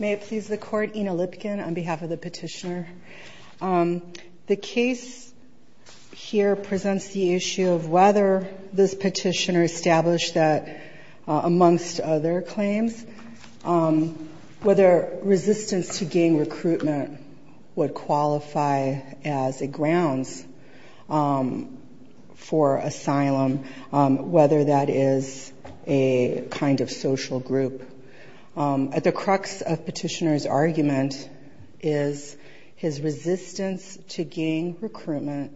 May it please the Court, Ina Lipkin on behalf of the petitioner. The case here presents the issue of whether this petitioner established that, amongst other claims, whether resistance to gang recruitment would qualify as a grounds for asylum, whether that is a kind of social group. At the crux of the petitioner's argument is his resistance to gang recruitment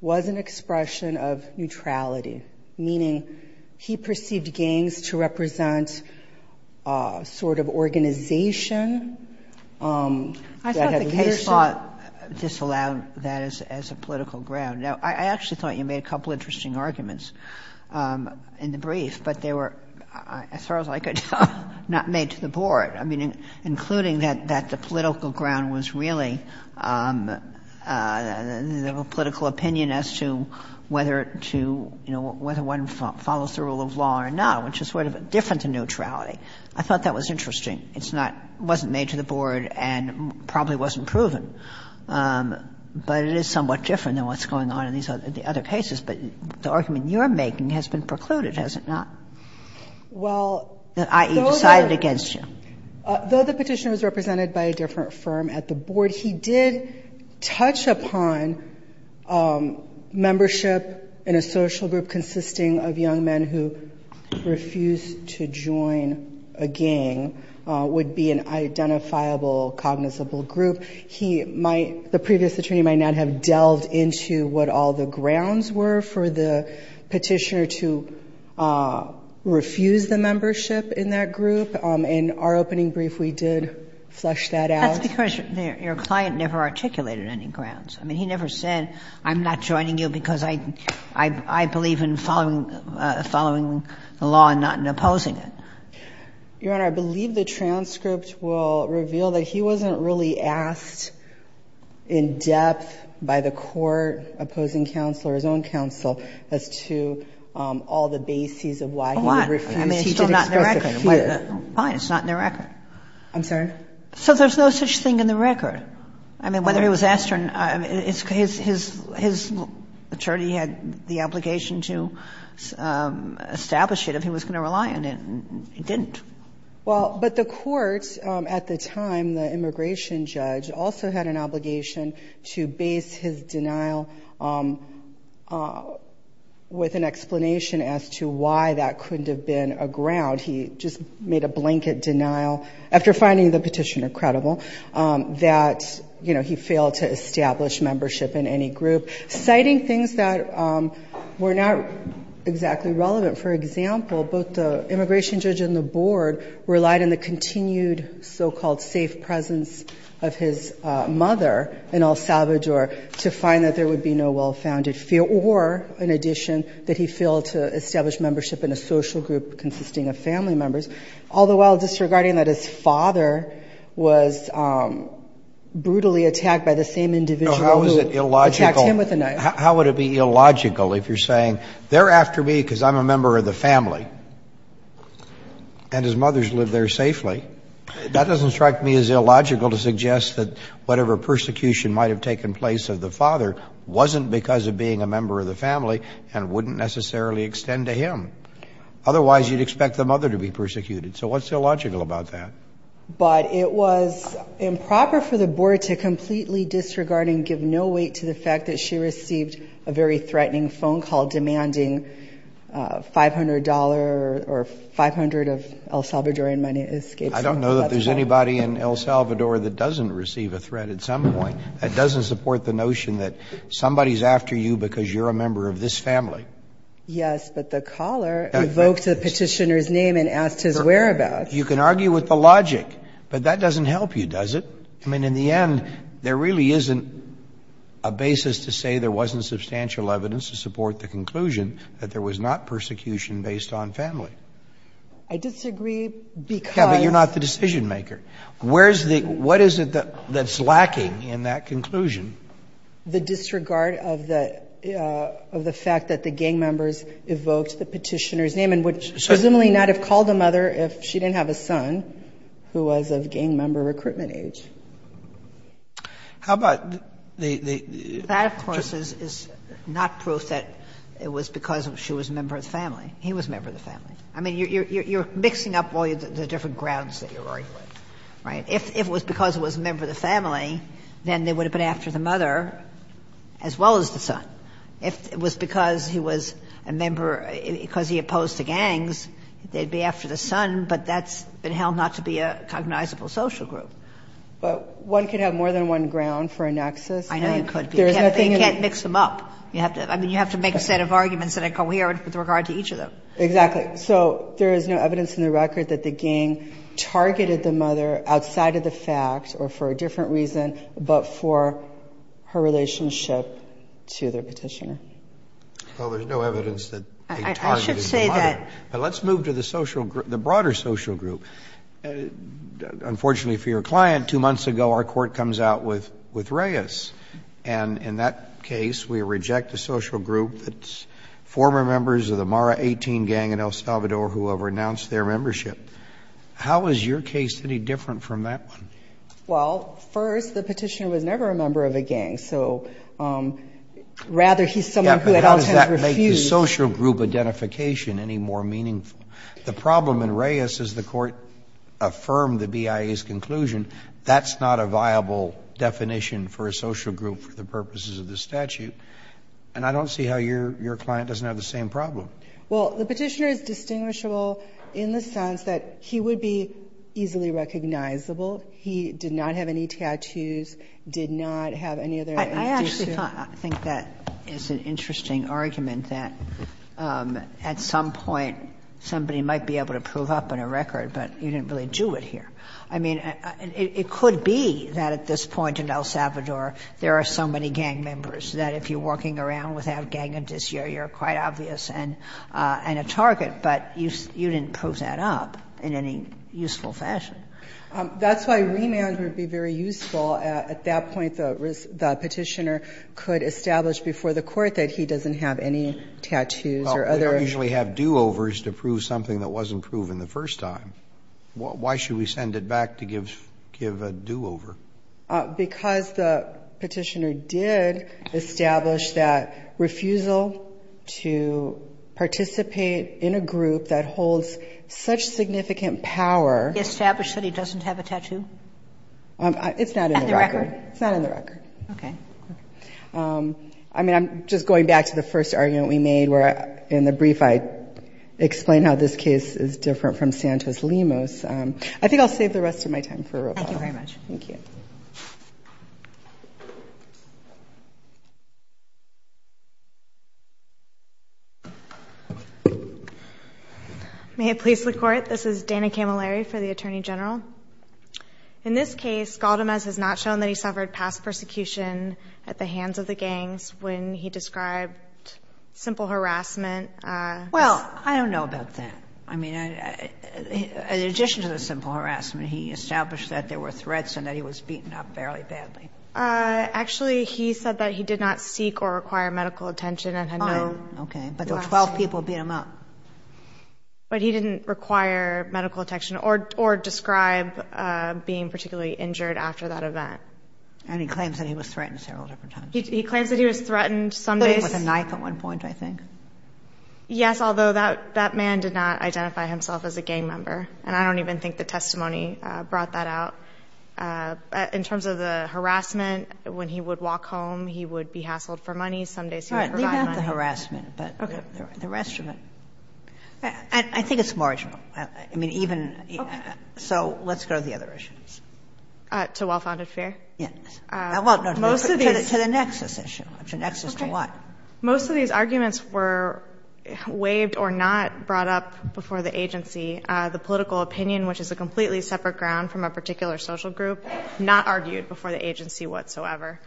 was an expression of neutrality, meaning he perceived gangs to represent a sort of organization. I thought the case thought disallowed that as a political ground. Now, I actually thought you made a couple of interesting arguments in the brief, but they were as far as I could tell not made to the board, I mean, including that the political ground was really the political opinion as to whether to, you know, whether one follows the rule of law or not, which is sort of different to neutrality. I thought that was interesting. It's not — wasn't made to the board and probably wasn't proven, but it is somewhat different than what's going on in these other cases. But the argument you're making has been precluded, has it not? That i.e., decided against you. Though the petitioner was represented by a different firm at the board, he did touch upon membership in a social group consisting of young men who refused to join a gang would be an identifiable, cognizable group. He might — the previous attorney might not have delved into what all the grounds were for the petitioner to refuse the membership in that group. In our opening brief, we did flesh that out. That's because your client never articulated any grounds. I mean, he never said, I'm not joining you because I believe in following the law and not in opposing it. Your Honor, I believe the transcript will reveal that he wasn't really asked in depth by the court opposing counsel or his own counsel as to all the bases of why he refused. I mean, it's still not in the record. Fine. It's not in the record. I'm sorry? So there's no such thing in the record. I mean, whether he was asked or not, his attorney had the obligation to establish it if he was going to rely on it, and he didn't. Well, but the court at the time, the immigration judge, also had an obligation to base his denial with an explanation as to why that couldn't have been a ground. He just made a blanket denial after finding the petitioner credible that, you know, he failed to establish membership in any group. Citing things that were not exactly relevant, for example, both the immigration judge and the board relied on the continued so-called safe presence of his mother in El Salvador to find that there would be no well-founded fear or, in addition, that he failed to establish membership in a social group consisting of family members, all the while disregarding that his father was brutally attacked by the same individual who attacked him with a knife. So how is it illogical? How would it be illogical if you're saying, they're after me because I'm a member of the family and his mother's lived there safely? That doesn't strike me as illogical to suggest that whatever persecution might have taken place of the father wasn't because of being a member of the family and wouldn't necessarily extend to him. Otherwise, you'd expect the mother to be persecuted. So what's illogical about that? But it was improper for the board to completely disregard and give no weight to the fact that she received a very threatening phone call demanding $500 or $500 of El Salvadorian money escaped from her left hand. I don't know that there's anybody in El Salvador that doesn't receive a threat at some point that doesn't support the notion that somebody's after you because you're a member of this family. Yes, but the caller evoked the petitioner's name and asked his whereabouts. You can argue with the logic, but that doesn't help you, does it? I mean, in the end, there really isn't a basis to say there wasn't substantial evidence to support the conclusion that there was not persecution based on family. I disagree because you're not the decision maker. Where's the what is it that's lacking in that conclusion? The disregard of the of the fact that the gang members evoked the petitioner's name and would presumably not have called the mother if she didn't have a son who was of gang member recruitment age. How about the, the, the? That, of course, is not proof that it was because she was a member of the family. He was a member of the family. I mean, you're mixing up all the different grounds that you're arguing with, right? If it was because it was a member of the family, then they would have been after the mother as well as the son. If it was because he was a member, because he opposed the gangs, they'd be after the son, but that's been held not to be a cognizable social group. But one can have more than one ground for a nexus. I know you could, but you can't mix them up. You have to, I mean, you have to make a set of arguments that are coherent with regard to each of them. Exactly. So there is no evidence in the record that the gang targeted the mother outside of the fact, or for a different reason, but for her relationship to their petitioner. Well, there's no evidence that they targeted the mother. I should say that. But let's move to the social group, the broader social group. Unfortunately for your client, two months ago our court comes out with, with Reyes. And in that case, we reject the social group that's former members of the Mara 18 gang in El Salvador who have renounced their membership. How is your case any different from that one? Well, first, the petitioner was never a member of a gang. So rather, he's someone who had always refused. But how does that make the social group identification any more meaningful? The problem in Reyes is the Court affirmed the BIA's conclusion that's not a viable definition for a social group for the purposes of the statute. And I don't see how your client doesn't have the same problem. Well, the petitioner is distinguishable in the sense that he would be easily recognizable. He did not have any tattoos, did not have any other identification. I actually thought, I think that is an interesting argument, that at some point somebody might be able to prove up on a record, but you didn't really do it here. I mean, it could be that at this point in El Salvador there are so many gang members that if you're walking around without gang identity, you're quite obvious and a target. But you didn't prove that up in any useful fashion. That's why remand would be very useful. At that point, the Petitioner could establish before the Court that he doesn't have any tattoos or other. We don't usually have do-overs to prove something that wasn't proven the first time. Why should we send it back to give a do-over? Because the Petitioner did establish that refusal to participate in a group that holds such significant power. Establish that he doesn't have a tattoo? It's not in the record. At the record? It's not in the record. Okay. I mean, I'm just going back to the first argument we made, where in the brief I explained how this case is different from Santos-Limos. I think I'll save the rest of my time for Roboto. Thank you very much. Thank you. May it please the Court? This is Dana Camilleri for the Attorney General. In this case, Galdamez has not shown that he suffered past persecution at the hands of the gangs when he described simple harassment. Well, I don't know about that. I mean, in addition to the simple harassment, he established that there were threats and that he was beaten up fairly badly. Actually, he said that he did not seek or require medical attention and had no— Fine. Okay. But there were 12 people who beat him up. But he didn't require medical attention or describe being particularly injured after that event. And he claims that he was threatened several different times. He claims that he was threatened some days— With a knife at one point, I think. Yes, although that man did not identify himself as a gang member. And I don't even think the testimony brought that out. In terms of the harassment, when he would walk home, he would be hassled for money. Some days he would provide money. All right. Leave out the harassment. Okay. But the rest of it, I think it's marginal. I mean, even— Okay. So let's go to the other issues. To well-founded fear? Yes. Well, no, to the nexus issue. To the nexus to what? Okay. Most of these arguments were waived or not brought up before the agency. The political opinion, which is a completely separate ground from a particular social group, not argued before the agency whatsoever.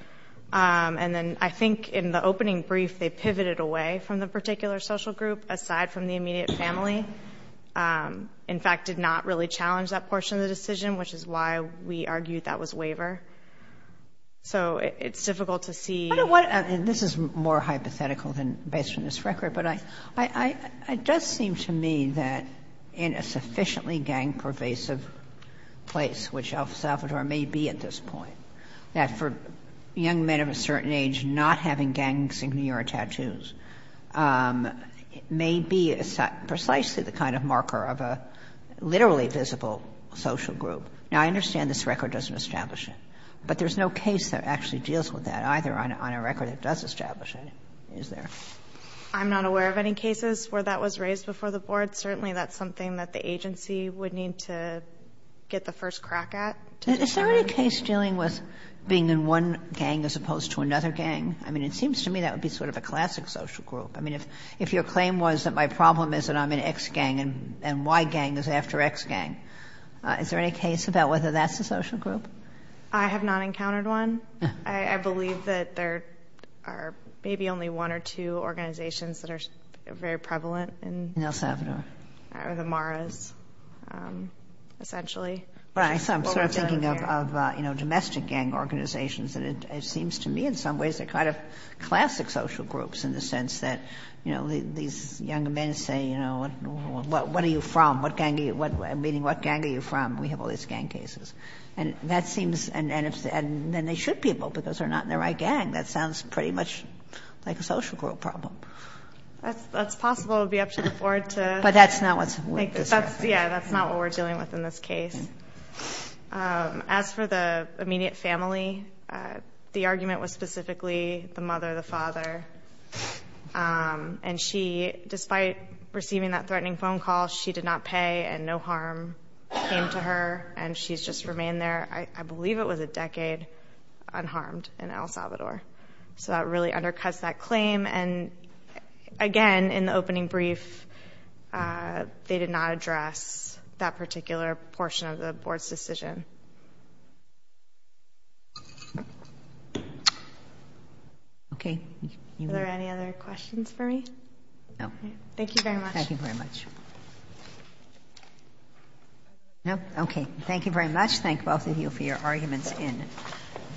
And then I think in the opening brief they pivoted away from the particular social group aside from the immediate family. In fact, did not really challenge that portion of the decision, which is why we argued that was waiver. So it's difficult to see— This is more hypothetical than based on this record, but it does seem to me that in a sufficiently gang-pervasive place, which El Salvador may be at this point, that for young men of a certain age not having gangs in New York tattoos may be precisely the kind of marker of a literally visible social group. Now, I understand this record doesn't establish it, but there's no case that actually deals with that either on a record that does establish it, is there? I'm not aware of any cases where that was raised before the board. Certainly that's something that the agency would need to get the first crack at. Is there any case dealing with being in one gang as opposed to another gang? I mean, it seems to me that would be sort of a classic social group. I mean, if your claim was that my problem is that I'm in X gang and Y gang is after X gang, is there any case about whether that's a social group? I have not encountered one. I believe that there are maybe only one or two organizations that are very prevalent in El Salvador. The Maras, essentially. But I'm sort of thinking of, you know, domestic gang organizations, and it seems to me in some ways they're kind of classic social groups in the sense that, you know, these young men say, you know, what are you from? Meaning, what gang are you from? We have all these gang cases. And that seems, and then they should be able, because they're not in the right gang. That sounds pretty much like a social group problem. That's possible. It would be up to the board to. But that's not what we're discussing. Yeah, that's not what we're dealing with in this case. As for the immediate family, the argument was specifically the mother, the father. And she, despite receiving that threatening phone call, she did not pay and no harm came to her. And she's just remained there, I believe it was a decade, unharmed in El Salvador. So that really undercuts that claim. And, again, in the opening brief, they did not address that particular portion of the board's decision. Okay. Are there any other questions for me? No. Thank you very much. Thank you very much. No? Okay. Thank you very much. Thank both of you for your arguments in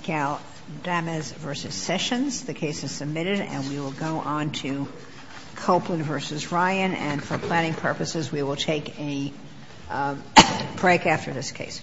Galdamez v. Sessions. The case is submitted. And we will go on to Copeland v. Ryan. And for planning purposes, we will take a break after this case.